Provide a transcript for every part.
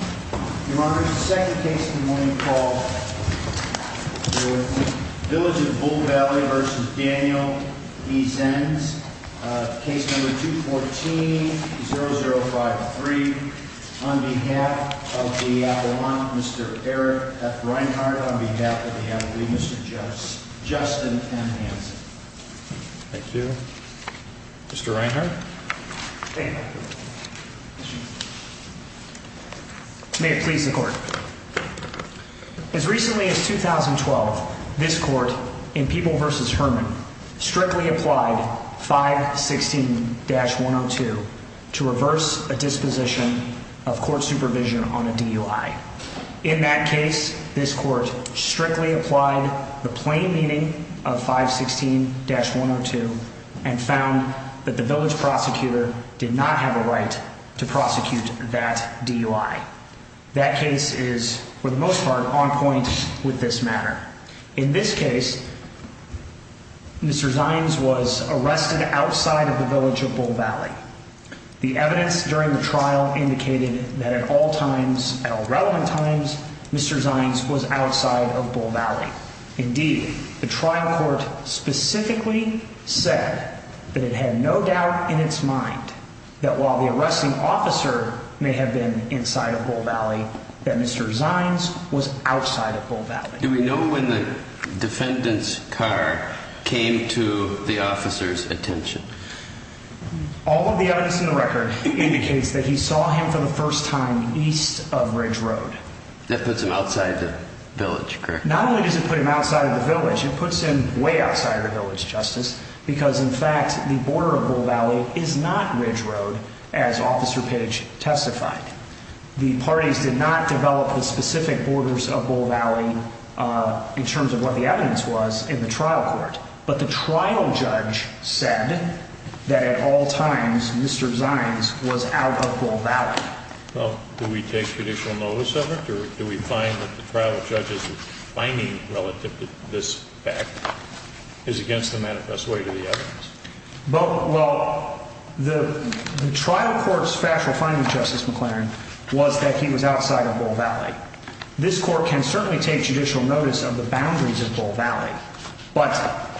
Your Honor, the second case in the morning is called the Village of Bull Valley v. Daniel v. Zeinz. Case number 214-0053. On behalf of the Avalon, Mr. Eric F. Reinhardt. On behalf of the Avalon, Mr. Justin M. Hanson. Thank you. Mr. Reinhardt. Thank you. May it please the court. As recently as 2012, this court in People v. Herman strictly applied 516-102 to reverse a disposition of court supervision on a DUI. In that case, this court strictly applied the plain meaning of 516-102 and found that the village prosecutor did not have a right to prosecute that DUI. That case is, for the most part, on point with this matter. In this case, Mr. Zeinz was arrested outside of the Village of Bull Valley. The evidence during the trial indicated that at all times, at all relevant times, Mr. Zeinz was outside of Bull Valley. Indeed, the trial court specifically said that it had no doubt in its mind that while the arresting officer may have been inside of Bull Valley, that Mr. Zeinz was outside of Bull Valley. Do we know when the defendant's car came to the officer's attention? All of the evidence in the record indicates that he saw him for the first time east of Ridge Road. That puts him outside the village, correct? Not only does it put him outside of the village, it puts him way outside the village, Justice. Because, in fact, the border of Bull Valley is not Ridge Road, as Officer Pidge testified. The parties did not develop the specific borders of Bull Valley in terms of what the evidence was in the trial court. But the trial judge said that at all times, Mr. Zeinz was out of Bull Valley. Well, do we take judicial notice of it, or do we find that the trial judge's finding relative to this fact is against the manifest way to the evidence? Well, the trial court's factual finding, Justice McLaren, was that he was outside of Bull Valley. This court can certainly take judicial notice of the boundaries of Bull Valley, but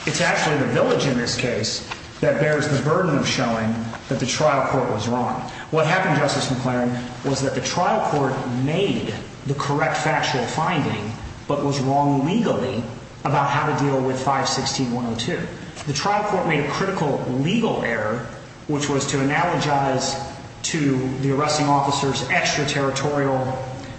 it's actually the village in this case that bears the burden of showing that the trial court was wrong. What happened, Justice McLaren, was that the trial court made the correct factual finding, but was wrong legally about how to deal with 516-102. The trial court made a critical legal error, which was to analogize to the arresting officer's extraterritorial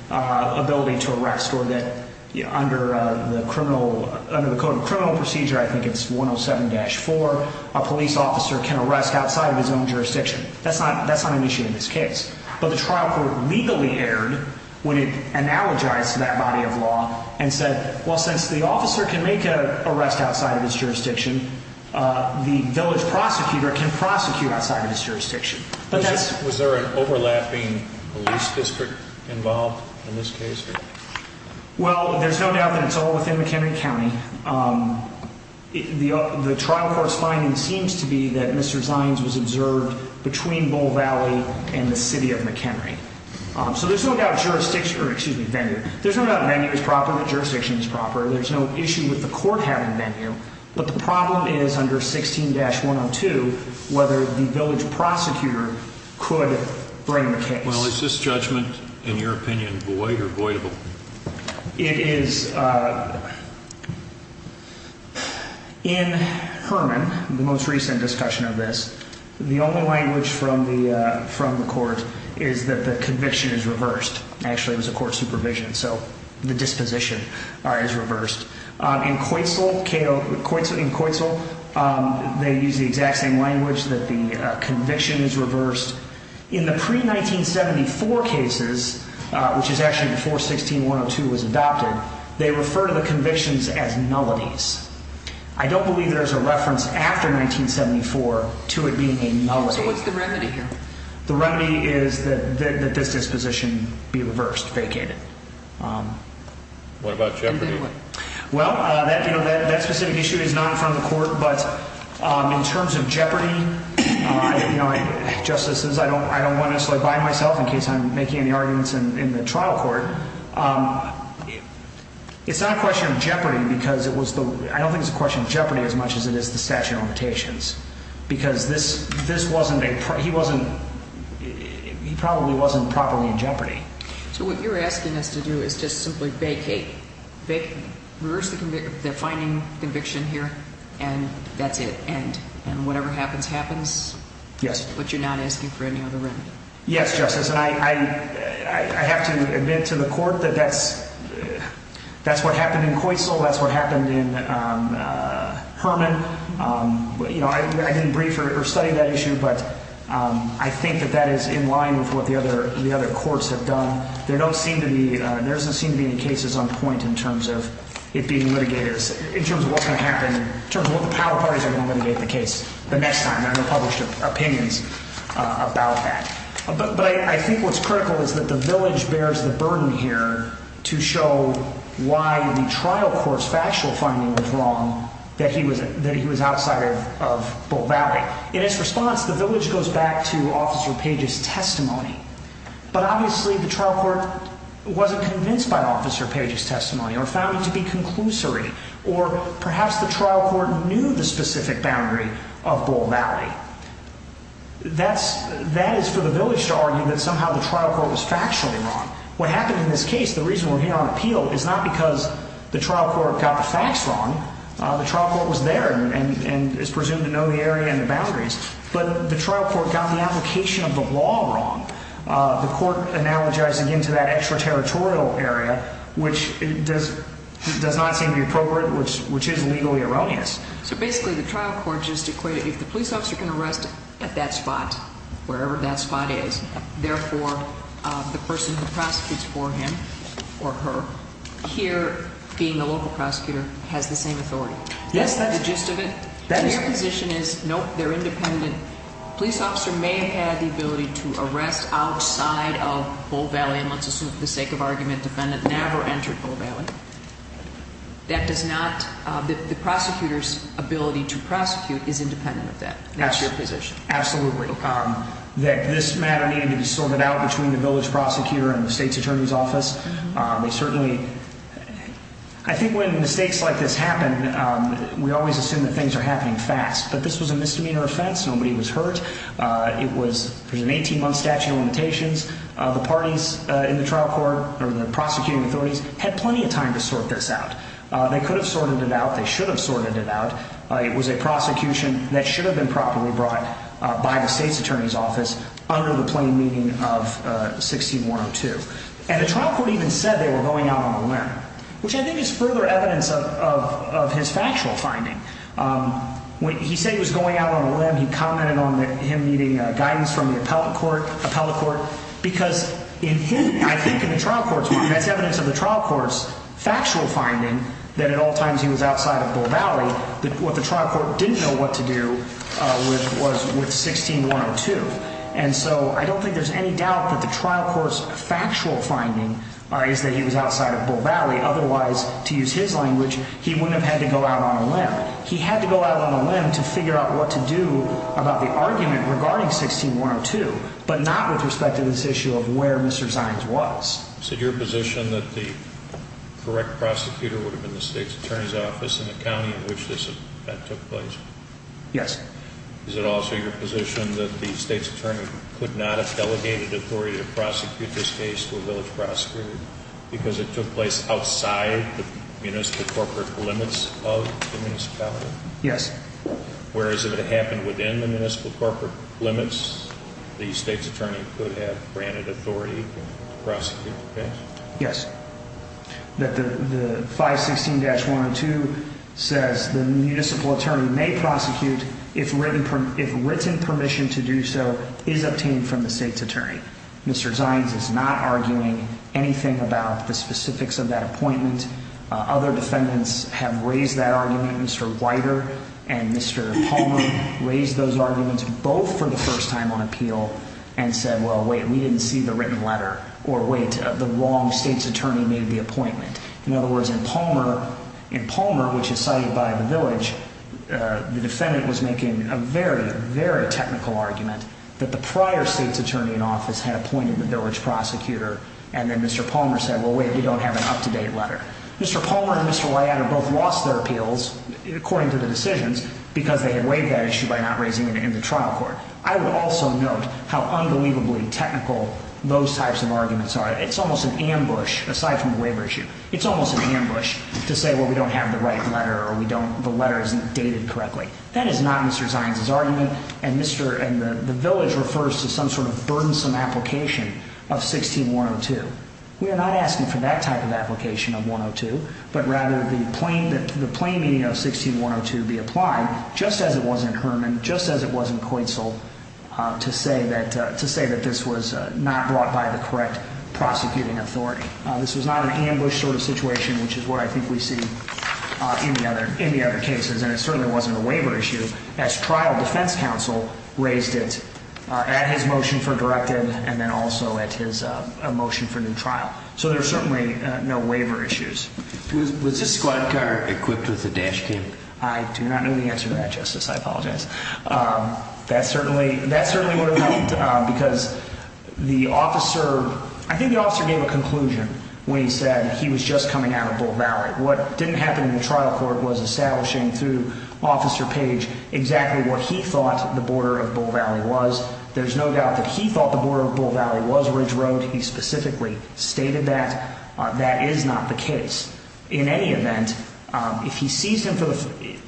ability to arrest, or that under the Code of Criminal Procedure, I think it's 107-4, a police officer can arrest outside of his own jurisdiction. That's not an issue in this case. But the trial court legally erred when it analogized to that body of law and said, well, since the officer can make an arrest outside of his jurisdiction, the village prosecutor can prosecute outside of his jurisdiction. Was there an overlapping police district involved in this case? Well, there's no doubt that it's all within McHenry County. The trial court's finding seems to be that Mr. Zines was observed between Bull Valley and the city of McHenry. So there's no doubt jurisdiction is proper. There's no issue with the court having venue. But the problem is under 16-102 whether the village prosecutor could bring the case. Well, is this judgment, in your opinion, void or voidable? It is. In Herman, the most recent discussion of this, the only language from the court is that the conviction is reversed. Actually, it was a court supervision. So the disposition is reversed. In Coitsel, they use the exact same language, that the conviction is reversed. In the pre-1974 cases, which is actually before 16-102 was adopted, they refer to the convictions as nullities. I don't believe there's a reference after 1974 to it being a nullity. So what's the remedy here? The remedy is that this disposition be reversed, vacated. What about jeopardy? In terms of jeopardy, justices, I don't necessarily want to buy myself in case I'm making any arguments in the trial court. It's not a question of jeopardy because it was the, I don't think it's a question of jeopardy as much as it is the statute of limitations. Because this wasn't a, he wasn't, he probably wasn't properly in jeopardy. So what you're asking us to do is just simply vacate, reverse the finding conviction here and that's it, end. And whatever happens, happens? Yes. But you're not asking for any other remedy? Yes, Justice. And I have to admit to the court that that's what happened in Coitsel, that's what happened in Herman. You know, I didn't brief or study that issue, but I think that that is in line with what the other courts have done. There don't seem to be, there doesn't seem to be any cases on point in terms of it being litigated, in terms of what's going to happen, in terms of what the power parties are going to litigate the case the next time. And I know there are published opinions about that. But I think what's critical is that the village bears the burden here to show why the trial court's factual finding was wrong, that he was outside of Bull Valley. In its response, the village goes back to Officer Page's testimony. But obviously the trial court wasn't convinced by Officer Page's testimony or found it to be conclusory, or perhaps the trial court knew the specific boundary of Bull Valley. That is for the village to argue that somehow the trial court was factually wrong. What happened in this case, the reason we're here on appeal, is not because the trial court got the facts wrong. The trial court was there and is presumed to know the area and the boundaries. But the trial court got the application of the law wrong. The court analogizing into that extraterritorial area, which does not seem to be appropriate, which is legally erroneous. So basically the trial court just equated if the police officer can arrest at that spot, wherever that spot is, therefore the person who prosecutes for him or her here, being a local prosecutor, has the same authority. Yes, that is correct. Your position is, nope, they're independent. A police officer may have had the ability to arrest outside of Bull Valley, and let's assume for the sake of argument the defendant never entered Bull Valley. That does not, the prosecutor's ability to prosecute is independent of that. That's your position. Absolutely. That this matter needed to be sorted out between the village prosecutor and the state's attorney's office. They certainly, I think when mistakes like this happen, we always assume that things are happening fast. But this was a misdemeanor offense. Nobody was hurt. It was an 18-month statute of limitations. The parties in the trial court, or the prosecuting authorities, had plenty of time to sort this out. They could have sorted it out. They should have sorted it out. It was a prosecution that should have been properly brought by the state's attorney's office under the plain meaning of 6102. And the trial court even said they were going out on a limb, which I think is further evidence of his factual finding. He said he was going out on a limb. He commented on him needing guidance from the appellate court because in him, I think in the trial court's mind, that's evidence of the trial court's factual finding that at all times he was outside of Bull Valley. What the trial court didn't know what to do was with 16102. And so I don't think there's any doubt that the trial court's factual finding is that he was outside of Bull Valley. Otherwise, to use his language, he wouldn't have had to go out on a limb. He had to go out on a limb to figure out what to do about the argument regarding 16102, but not with respect to this issue of where Mr. Zines was. Is it your position that the correct prosecutor would have been the state's attorney's office in the county in which that took place? Yes. Is it also your position that the state's attorney could not have delegated authority to prosecute this case to a village prosecutor because it took place outside the municipal corporate limits of the municipality? Yes. Whereas if it happened within the municipal corporate limits, the state's attorney could have granted authority to prosecute the case? Yes. The 516-102 says the municipal attorney may prosecute if written permission to do so is obtained from the state's attorney. Mr. Zines is not arguing anything about the specifics of that appointment. Other defendants have raised that argument. Mr. Weider and Mr. Palmer raised those arguments both for the first time on appeal and said, well, wait, we didn't see the written letter, or, wait, the wrong state's attorney made the appointment. In other words, in Palmer, which is cited by the village, the defendant was making a very, very technical argument that the prior state's attorney in office had appointed the village prosecutor, and then Mr. Palmer said, well, wait, we don't have an up-to-date letter. Mr. Palmer and Mr. Weider both lost their appeals, according to the decisions, because they had waived that issue by not raising it in the trial court. I would also note how unbelievably technical those types of arguments are. It's almost an ambush, aside from the waiver issue. It's almost an ambush to say, well, we don't have the right letter or the letter isn't dated correctly. That is not Mr. Zines's argument, and the village refers to some sort of burdensome application of 516-102. We are not asking for that type of application of 516-102, but rather the plain meaning of 516-102 be applied, just as it was in Herman, just as it was in Coitzle, to say that this was not brought by the correct prosecuting authority. This was not an ambush sort of situation, which is what I think we see in the other cases, and it certainly wasn't a waiver issue, as trial defense counsel raised it at his motion for directive and then also at his motion for new trial. So there are certainly no waiver issues. Was this squad car equipped with a dash cam? I do not know the answer to that, Justice. I apologize. That certainly would have helped because the officer, I think the officer gave a conclusion when he said he was just coming out of Bull Valley. What didn't happen in the trial court was establishing through Officer Page exactly what he thought the border of Bull Valley was. There's no doubt that he thought the border of Bull Valley was Ridge Road. He specifically stated that. That is not the case. In any event, if he seized him,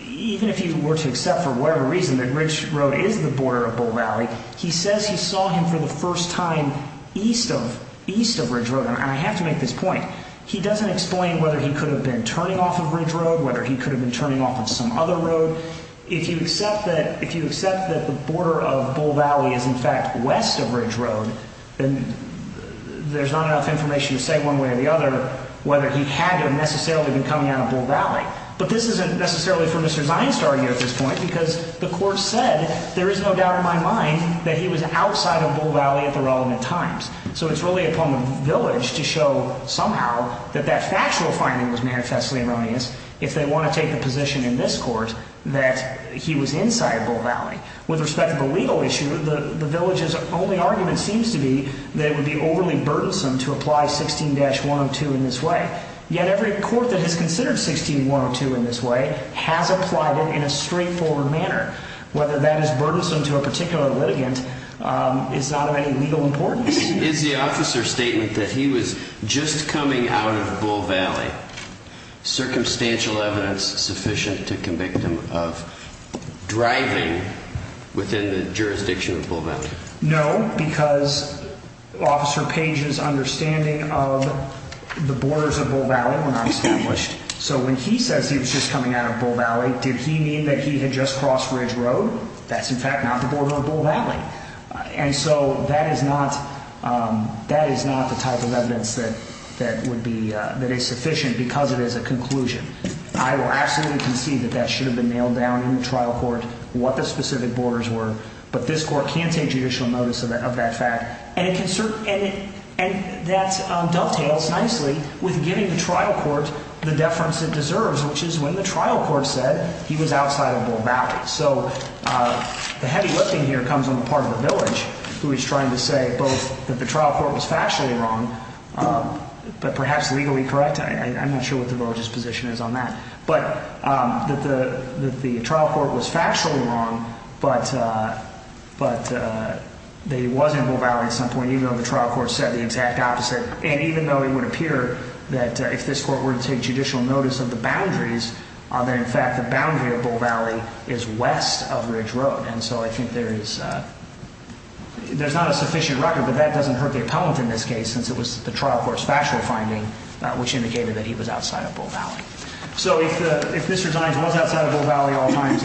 even if he were to accept for whatever reason that Ridge Road is the border of Bull Valley, he says he saw him for the first time east of Ridge Road, and I have to make this point. He doesn't explain whether he could have been turning off of Ridge Road, whether he could have been turning off of some other road. So if you accept that the border of Bull Valley is in fact west of Ridge Road, then there's not enough information to say one way or the other whether he had necessarily been coming out of Bull Valley. But this isn't necessarily for Mr. Zienst to argue at this point because the court said, there is no doubt in my mind that he was outside of Bull Valley at the relevant times. So it's really upon the village to show somehow that that factual finding was manifestly erroneous. If they want to take a position in this court that he was inside Bull Valley. With respect to the legal issue, the village's only argument seems to be that it would be overly burdensome to apply 16-102 in this way. Yet every court that has considered 16-102 in this way has applied it in a straightforward manner. Whether that is burdensome to a particular litigant is not of any legal importance. Is the officer's statement that he was just coming out of Bull Valley circumstantial evidence sufficient to convict him of driving within the jurisdiction of Bull Valley? No, because Officer Page's understanding of the borders of Bull Valley were not established. So when he says he was just coming out of Bull Valley, did he mean that he had just crossed Ridge Road? That's in fact not the border of Bull Valley. And so that is not the type of evidence that is sufficient because it is a conclusion. I will absolutely concede that that should have been nailed down in the trial court what the specific borders were. But this court can take judicial notice of that fact. And that dovetails nicely with giving the trial court the deference it deserves, which is when the trial court said he was outside of Bull Valley. So the heavy lifting here comes on the part of the village who is trying to say both that the trial court was factually wrong, but perhaps legally correct. I'm not sure what the village's position is on that. But that the trial court was factually wrong, but that he was in Bull Valley at some point, even though the trial court said the exact opposite. And even though it would appear that if this court were to take judicial notice of the boundaries, that in fact the boundary of Bull Valley is west of Ridge Road. And so I think there is not a sufficient record. But that doesn't hurt the appellant in this case since it was the trial court's factual finding which indicated that he was outside of Bull Valley. So if Mr. Dines was outside of Bull Valley at all times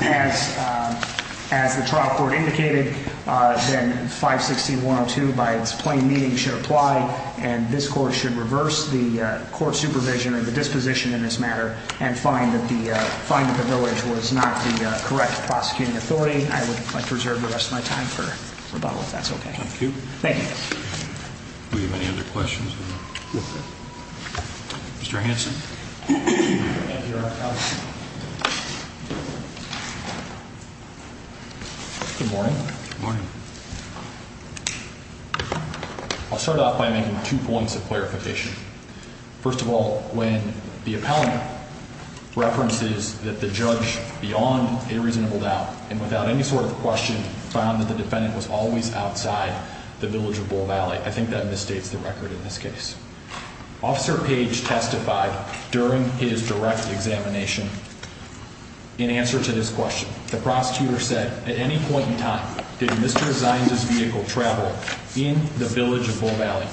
as the trial court indicated, then 516-102 by its plain meaning should apply. And this court should reverse the court supervision or the disposition in this matter and find that the finding of the village was not the correct prosecuting authority. I would like to reserve the rest of my time for rebuttal if that's okay. Thank you. Thank you. Do we have any other questions? No. Mr. Hanson. Thank you, Your Honor. Good morning. Good morning. I'll start off by making two points of clarification. First of all, when the appellant references that the judge beyond a reasonable doubt and without any sort of question found that the defendant was always outside the village of Bull Valley, I think that misstates the record in this case. Officer Page testified during his direct examination in answer to this question. The prosecutor said at any point in time did Mr. Dines' vehicle travel in the village of Bull Valley.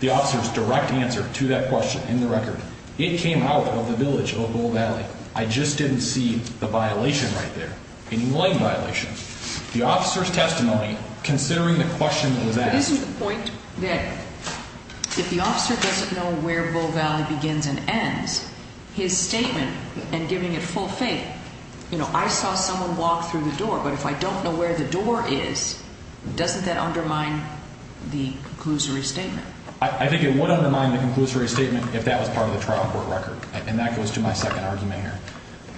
The officer's direct answer to that question in the record, it came out of the village of Bull Valley. I just didn't see the violation right there, any line violation. The officer's testimony, considering the question that was asked. Isn't the point that if the officer doesn't know where Bull Valley begins and ends, his statement and giving it full faith, you know, I saw someone walk through the door, but if I don't know where the door is, doesn't that undermine the conclusory statement? I think it would undermine the conclusory statement if that was part of the trial court record, and that goes to my second argument here.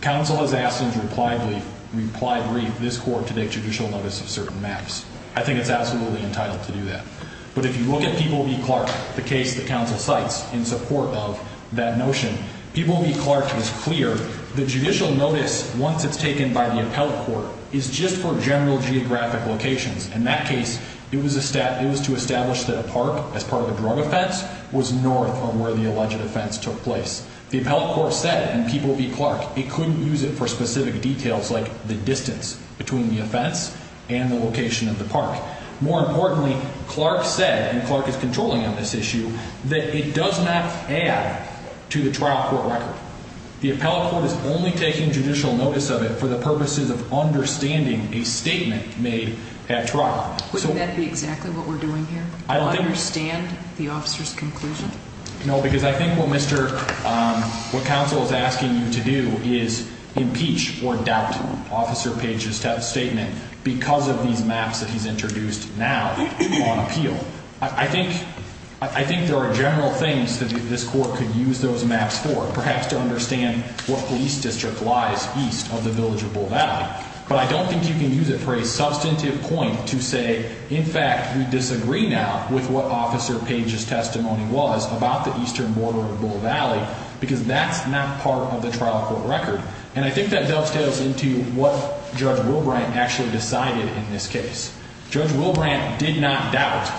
Counsel has asked in reply brief this court to take judicial notice of certain maps. I think it's absolutely entitled to do that. But if you look at People v. Clark, the case that counsel cites in support of that notion, People v. Clark is clear. The judicial notice, once it's taken by the appellate court, is just for general geographic locations. In that case, it was to establish that a park as part of a drug offense was north of where the alleged offense took place. The appellate court said in People v. Clark it couldn't use it for specific details like the distance between the offense and the location of the park. More importantly, Clark said, and Clark is controlling on this issue, that it does not add to the trial court record. The appellate court is only taking judicial notice of it for the purposes of understanding a statement made at trial. Wouldn't that be exactly what we're doing here? I don't think so. To understand the officer's conclusion? No, because I think what counsel is asking you to do is impeach or doubt Officer Page's statement because of these maps that he's introduced now on appeal. I think there are general things that this court could use those maps for, perhaps to understand what police district lies east of the village of Bull Valley. But I don't think you can use it for a substantive point to say, in fact, we disagree now with what Officer Page's testimony was about the eastern border of Bull Valley because that's not part of the trial court record. And I think that dovetails into what Judge Wilbrandt actually decided in this case. Judge Wilbrandt did not doubt.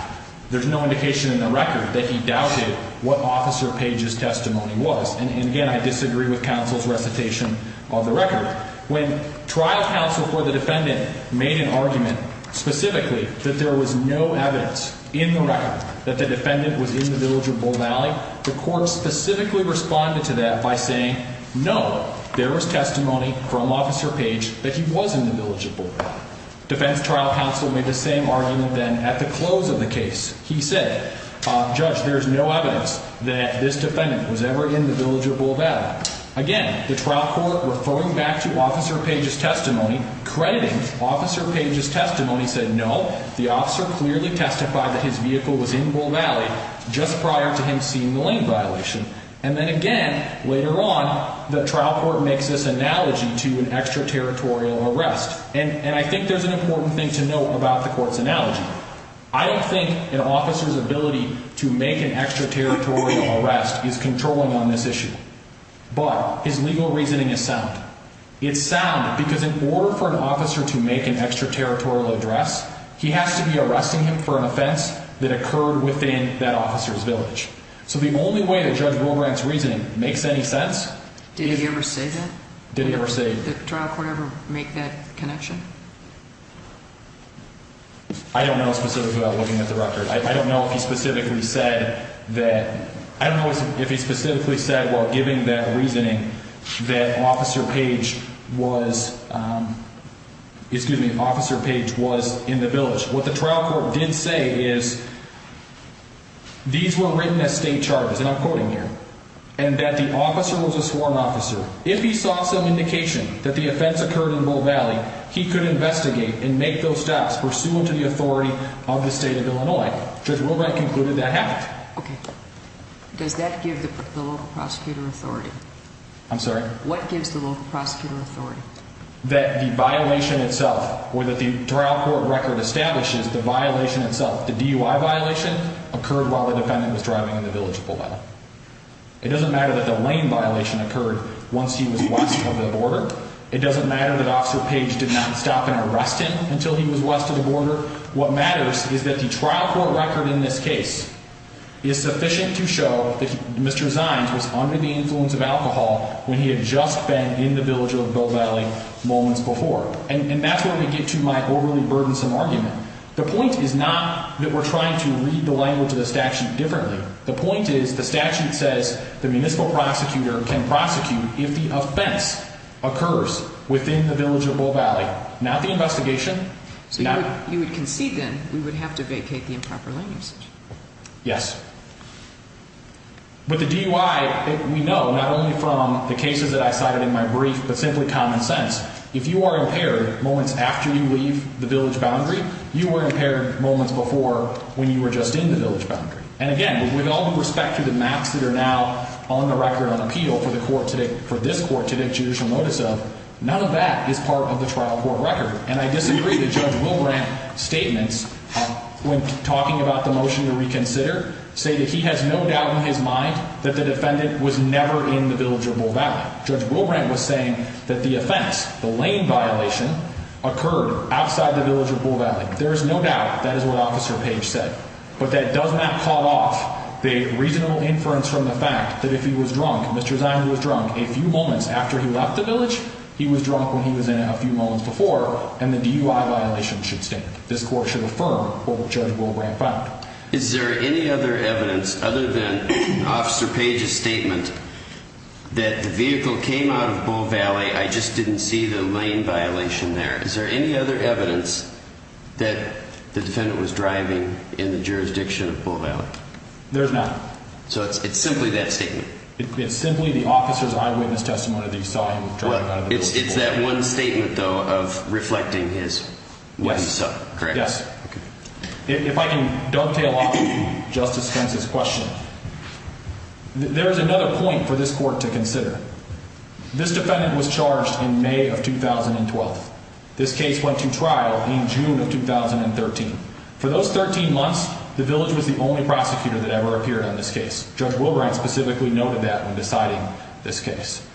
There's no indication in the record that he doubted what Officer Page's testimony was. And again, I disagree with counsel's recitation of the record. When trial counsel for the defendant made an argument specifically that there was no evidence in the record that the defendant was in the village of Bull Valley, the court specifically responded to that by saying, no, there was testimony from Officer Page that he was in the village of Bull Valley. Defense trial counsel made the same argument then at the close of the case. He said, Judge, there's no evidence that this defendant was ever in the village of Bull Valley. Again, the trial court referring back to Officer Page's testimony, crediting Officer Page's testimony, said, no, the officer clearly testified that his vehicle was in Bull Valley just prior to him seeing the lane violation. And then again, later on, the trial court makes this analogy to an extraterritorial arrest. And I think there's an important thing to note about the court's analogy. I don't think an officer's ability to make an extraterritorial arrest is controlling on this issue. But his legal reasoning is sound. It's sound because in order for an officer to make an extraterritorial address, he has to be arresting him for an offense that occurred within that officer's village. So the only way that Judge Wilbrandt's reasoning makes any sense... Did he ever say that? Did he ever say... Did the trial court ever make that connection? I don't know specifically without looking at the record. I don't know if he specifically said that... I don't know if he specifically said while giving that reasoning that Officer Page was... Excuse me, Officer Page was in the village. What the trial court did say is these were written as state charges, and I'm quoting here, and that the officer was a sworn officer. If he saw some indication that the offense occurred in Bull Valley, he could investigate and make those steps pursuant to the authority of the state of Illinois. Judge Wilbrandt concluded that happened. Okay. Does that give the local prosecutor authority? I'm sorry? What gives the local prosecutor authority? That the violation itself, or that the trial court record establishes the violation itself, the DUI violation, occurred while the defendant was driving in the village of Bull Valley. It doesn't matter that the lane violation occurred once he was west of the border. It doesn't matter that Officer Page did not stop and arrest him until he was west of the border. What matters is that the trial court record in this case is sufficient to show that Mr. Zines was under the influence of alcohol when he had just been in the village of Bull Valley moments before. And that's where we get to my overly burdensome argument. The point is not that we're trying to read the language of the statute differently. The point is the statute says the municipal prosecutor can prosecute if the offense occurs within the village of Bull Valley. Not the investigation. So you would concede, then, we would have to vacate the improper lane usage? Yes. With the DUI, we know not only from the cases that I cited in my brief, but simply common sense. If you are impaired moments after you leave the village boundary, you were impaired moments before when you were just in the village boundary. And, again, with all due respect to the maps that are now on the record on appeal for this court to take judicial notice of, none of that is part of the trial court record. And I disagree that Judge Wilbrandt's statements when talking about the motion to reconsider say that he has no doubt in his mind that the defendant was never in the village of Bull Valley. Judge Wilbrandt was saying that the offense, the lane violation, occurred outside the village of Bull Valley. There is no doubt that is what Officer Page said. But that does not call off the reasonable inference from the fact that if he was drunk, Mr. Ziner was drunk, a few moments after he left the village, he was drunk when he was in it a few moments before, and the DUI violation should stand. This court should affirm what Judge Wilbrandt found. Is there any other evidence other than Officer Page's statement that the vehicle came out of Bull Valley, I just didn't see the lane violation there? Is there any other evidence that the defendant was driving in the jurisdiction of Bull Valley? There is not. So it's simply that statement? It's simply the officer's eyewitness testimony that he saw him driving out of the village of Bull Valley. It's that one statement, though, of reflecting what he saw, correct? Yes. If I can dovetail off of Justice Spence's question, there is another point for this court to consider. This defendant was charged in May of 2012. This case went to trial in June of 2013. For those 13 months, the village was the only prosecutor that ever appeared on this case. Judge Wilbrandt specifically noted that when deciding this case.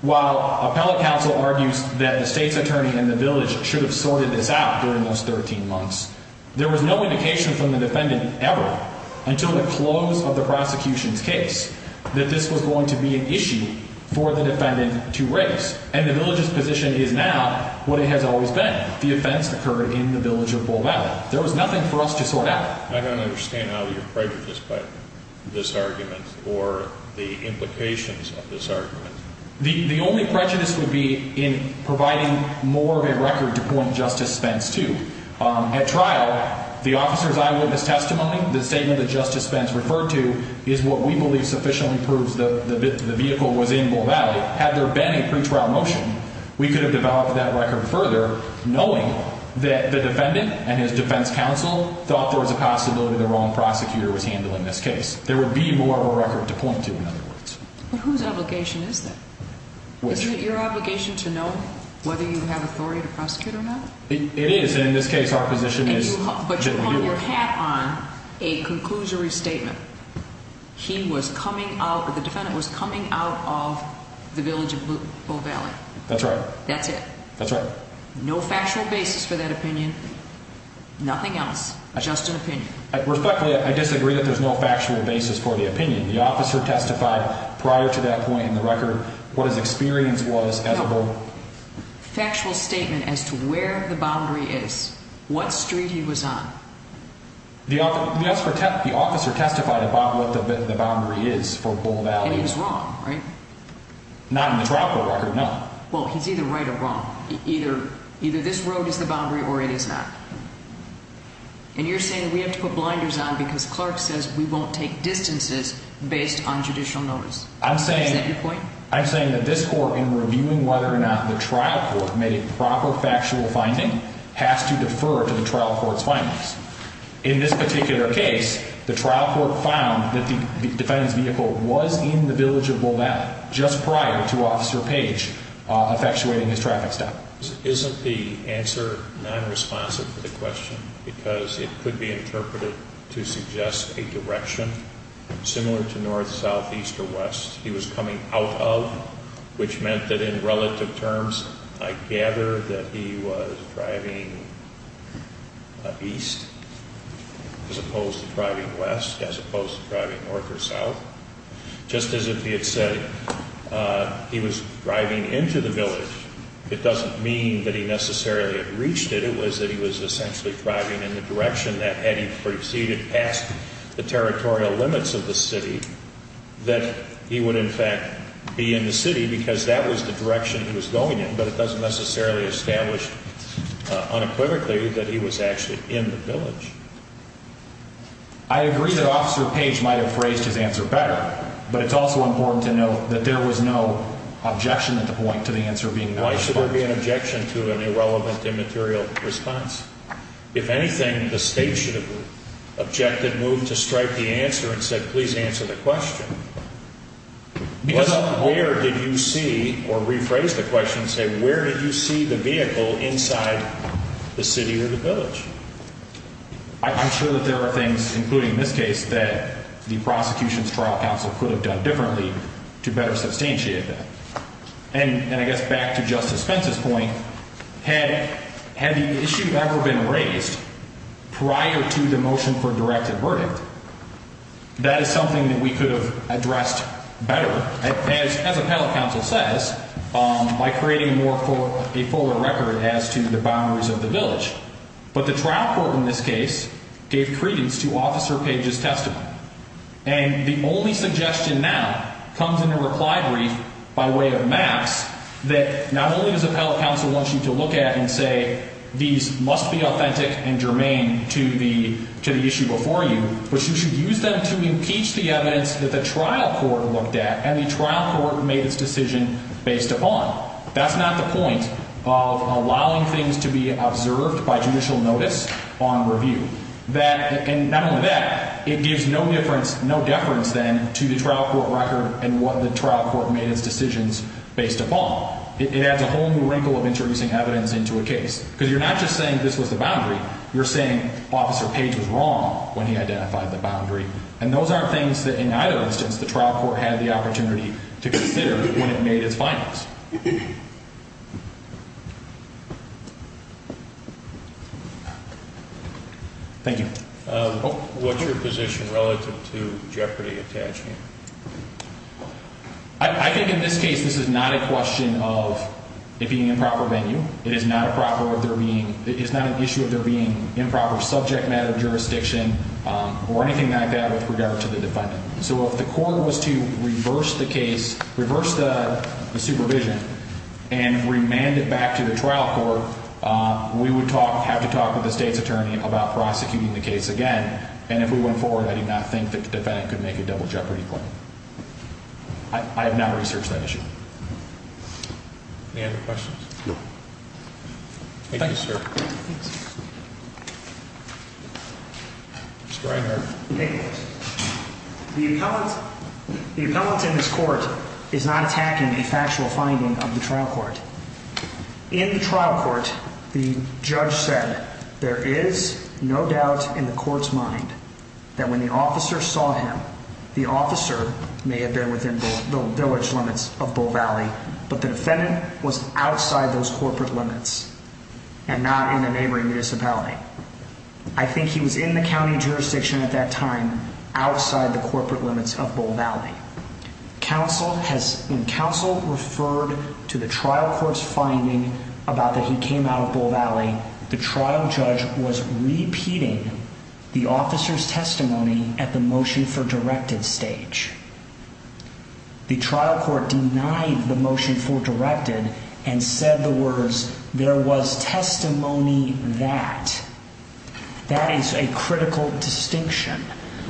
While appellate counsel argues that the state's attorney and the village should have sorted this out during those 13 months, there was no indication from the defendant ever, until the close of the prosecution's case, that this was going to be an issue for the defendant to raise. And the village's position is now what it has always been. The offense occurred in the village of Bull Valley. There was nothing for us to sort out. I don't understand how you're prejudiced by this argument or the implications of this argument. The only prejudice would be in providing more of a record to point Justice Spence to. At trial, the officer's eyewitness testimony, the statement that Justice Spence referred to, is what we believe sufficiently proves that the vehicle was in Bull Valley. Had there been a pretrial motion, we could have developed that record further, knowing that the defendant and his defense counsel thought there was a possibility the wrong prosecutor was handling this case. There would be more of a record to point to, in other words. But whose obligation is that? Isn't it your obligation to know whether you have authority to prosecute or not? It is, and in this case our position is that we do. But you hold your hat on a conclusory statement. He was coming out, the defendant was coming out of the village of Bull Valley. That's right. That's it. That's right. No factual basis for that opinion. Nothing else. Just an opinion. Respectfully, I disagree that there's no factual basis for the opinion. The officer testified prior to that point in the record what his experience was as a Bull. No. Factual statement as to where the boundary is. What street he was on. The officer testified about what the boundary is for Bull Valley. It is wrong, right? Not in the trial court record, no. Well, he's either right or wrong. Either this road is the boundary or it is not. And you're saying we have to put blinders on because Clark says we won't take distances based on judicial notice. Is that your point? I'm saying that this court, in reviewing whether or not the trial court made a proper factual finding, has to defer to the trial court's findings. In this particular case, the trial court found that the defendant's vehicle was in the village of Bull Valley just prior to Officer Page effectuating his traffic stop. Isn't the answer nonresponsive to the question? Because it could be interpreted to suggest a direction similar to north, south, east, or west he was coming out of, which meant that in relative terms I gather that he was driving east as opposed to driving west, as opposed to driving north or south. Just as if he had said he was driving into the village, it doesn't mean that he necessarily had reached it. It was that he was essentially driving in the direction that had he proceeded past the territorial limits of the city, that he would in fact be in the city because that was the direction he was going in. But it doesn't necessarily establish unequivocally that he was actually in the village. I agree that Officer Page might have phrased his answer better, but it's also important to note that there was no objection at the point to the answer being nonresponsive. Why should there be an objection to an irrelevant immaterial response? If anything, the state should have objected, moved to strike the answer, and said, please answer the question. Where did you see, or rephrase the question and say, where did you see the vehicle inside the city or the village? I'm sure that there are things, including in this case, that the prosecution's trial counsel could have done differently to better substantiate that. And I guess back to Justice Spence's point, had the issue ever been raised prior to the motion for directed verdict, that is something that we could have addressed better, as appellate counsel says, by creating a fuller record as to the boundaries of the village. But the trial court in this case gave credence to Officer Page's testimony. And the only suggestion now comes in a reply brief by way of maps that not only does appellate counsel want you to look at and say, these must be authentic and germane to the issue before you, but you should use them to impeach the evidence that the trial court looked at and the trial court made its decision based upon. That's not the point of allowing things to be observed by judicial notice on review. And not only that, it gives no deference, then, to the trial court record and what the trial court made its decisions based upon. It adds a whole new wrinkle of introducing evidence into a case. Because you're not just saying this was the boundary. You're saying Officer Page was wrong when he identified the boundary. And those are things that, in either instance, the trial court had the opportunity to consider when it made its findings. Thank you. What's your position relative to jeopardy attachment? I think in this case, this is not a question of it being an improper venue. It is not an issue of there being improper subject matter jurisdiction or anything like that with regard to the defendant. So if the court was to reverse the case, reverse the supervision, and remand it back to the trial court, we would have to talk with the state's attorney about prosecuting the case again. And if we went forward, I do not think that the defendant could make a double jeopardy claim. I have not researched that issue. Any other questions? No. Thank you, sir. Thanks. Mr. Reinhart. The appellant in this court is not attacking a factual finding of the trial court. In the trial court, the judge said there is no doubt in the court's mind that when the officer saw him, the officer may have been within the village limits of Bull Valley, but the defendant was outside those corporate limits and not in a neighboring municipality. I think he was in the county jurisdiction at that time outside the corporate limits of Bull Valley. When counsel referred to the trial court's finding about that he came out of Bull Valley, the trial judge was repeating the officer's testimony at the motion for directed stage. The trial court denied the motion for directed and said the words, there was testimony that. That is a critical distinction.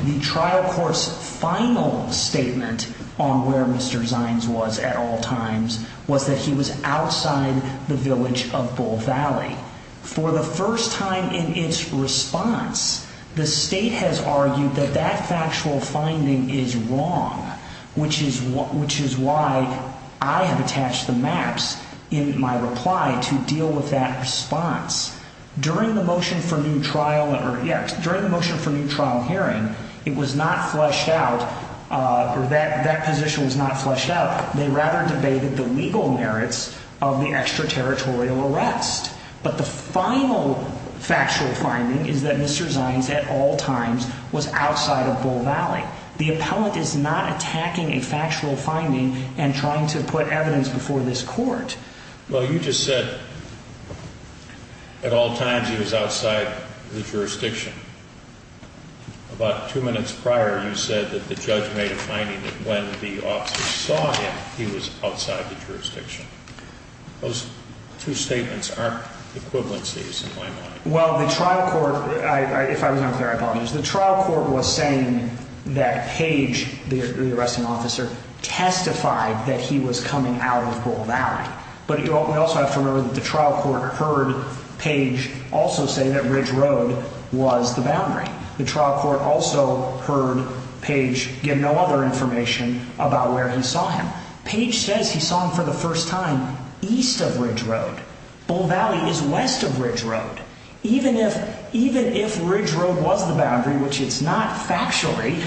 The trial court's final statement on where Mr. Zines was at all times was that he was outside the village of Bull Valley. For the first time in its response, the state has argued that that factual finding is wrong, which is why I have attached the maps in my reply to deal with that response. During the motion for new trial hearing, it was not fleshed out or that position was not fleshed out. They rather debated the legal merits of the extraterritorial arrest. But the final factual finding is that Mr. Zines at all times was outside of Bull Valley. The appellant is not attacking a factual finding and trying to put evidence before this court. Well, you just said at all times he was outside the jurisdiction. About two minutes prior, you said that the judge made a finding that when the officer saw him, he was outside the jurisdiction. Those two statements aren't equivalencies in my mind. Well, the trial court, if I was unclear, I apologize. The trial court was saying that Page, the arresting officer, testified that he was coming out of Bull Valley. But we also have to remember that the trial court heard Page also say that Ridge Road was the boundary. The trial court also heard Page give no other information about where he saw him. Page says he saw him for the first time east of Ridge Road. Bull Valley is west of Ridge Road. Even if Ridge Road was the boundary, which it's not factually,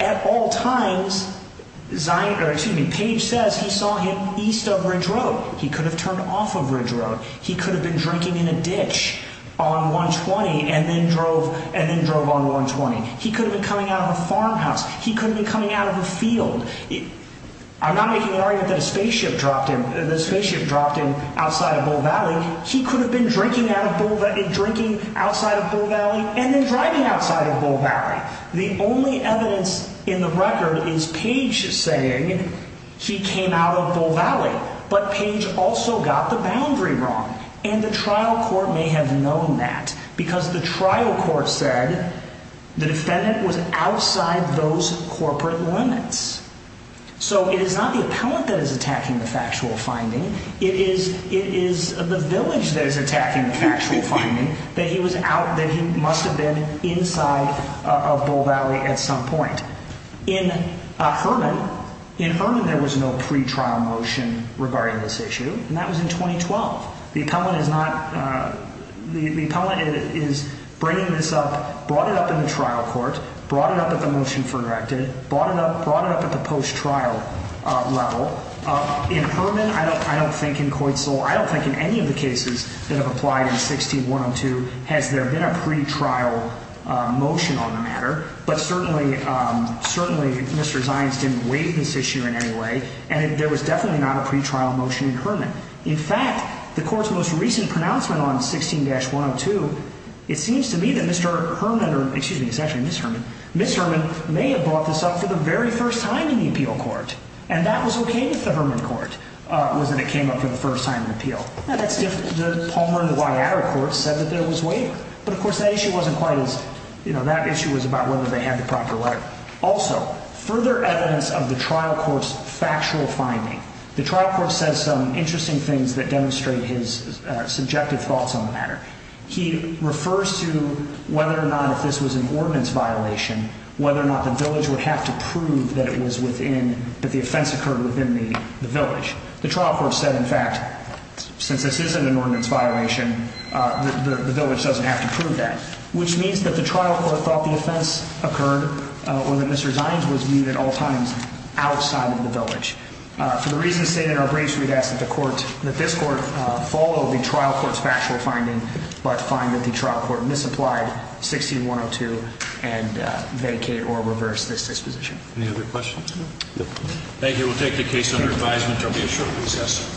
at all times, Page says he saw him east of Ridge Road. He could have turned off of Ridge Road. He could have been drinking in a ditch on 120 and then drove on 120. He could have been coming out of a farmhouse. He could have been coming out of a field. I'm not making an argument that a spaceship dropped him outside of Bull Valley. He could have been drinking outside of Bull Valley and then driving outside of Bull Valley. The only evidence in the record is Page saying he came out of Bull Valley. But Page also got the boundary wrong, and the trial court may have known that because the trial court said the defendant was outside those corporate limits. So it is not the appellant that is attacking the factual finding. It is the village that is attacking the factual finding that he must have been inside of Bull Valley at some point. In Herman, there was no pretrial motion regarding this issue, and that was in 2012. The appellant is bringing this up, brought it up in the trial court, brought it up at the motion for directive, brought it up at the post-trial level. In Herman, I don't think in Coit Soul, I don't think in any of the cases that have applied in 16-102, has there been a pretrial motion on the matter. But certainly Mr. Zients didn't weigh this issue in any way, and there was definitely not a pretrial motion in Herman. In fact, the court's most recent pronouncement on 16-102, it seems to me that Mr. Herman, or excuse me, it's actually Ms. Herman, Ms. Herman may have brought this up for the very first time in the appeal court. And that was what came with the Herman court, was that it came up for the first time in the appeal. Now, that's different. The Palmer and Guayada courts said that there was waiver. But, of course, that issue wasn't quite as, you know, that issue was about whether they had the proper right. Also, further evidence of the trial court's factual finding. The trial court says some interesting things that demonstrate his subjective thoughts on the matter. He refers to whether or not if this was an ordinance violation, whether or not the village would have to prove that it was within, that the offense occurred within the village. The trial court said, in fact, since this isn't an ordinance violation, the village doesn't have to prove that. Which means that the trial court thought the offense occurred, or that Mr. Zients was viewed at all times outside of the village. For the reasons stated in our briefs, we'd ask that the court, that this court follow the trial court's factual finding, but find that the trial court misapplied 16-102 and vacate or reverse this disposition. Any other questions? Thank you. We'll take the case under advisement. There will be a short recess.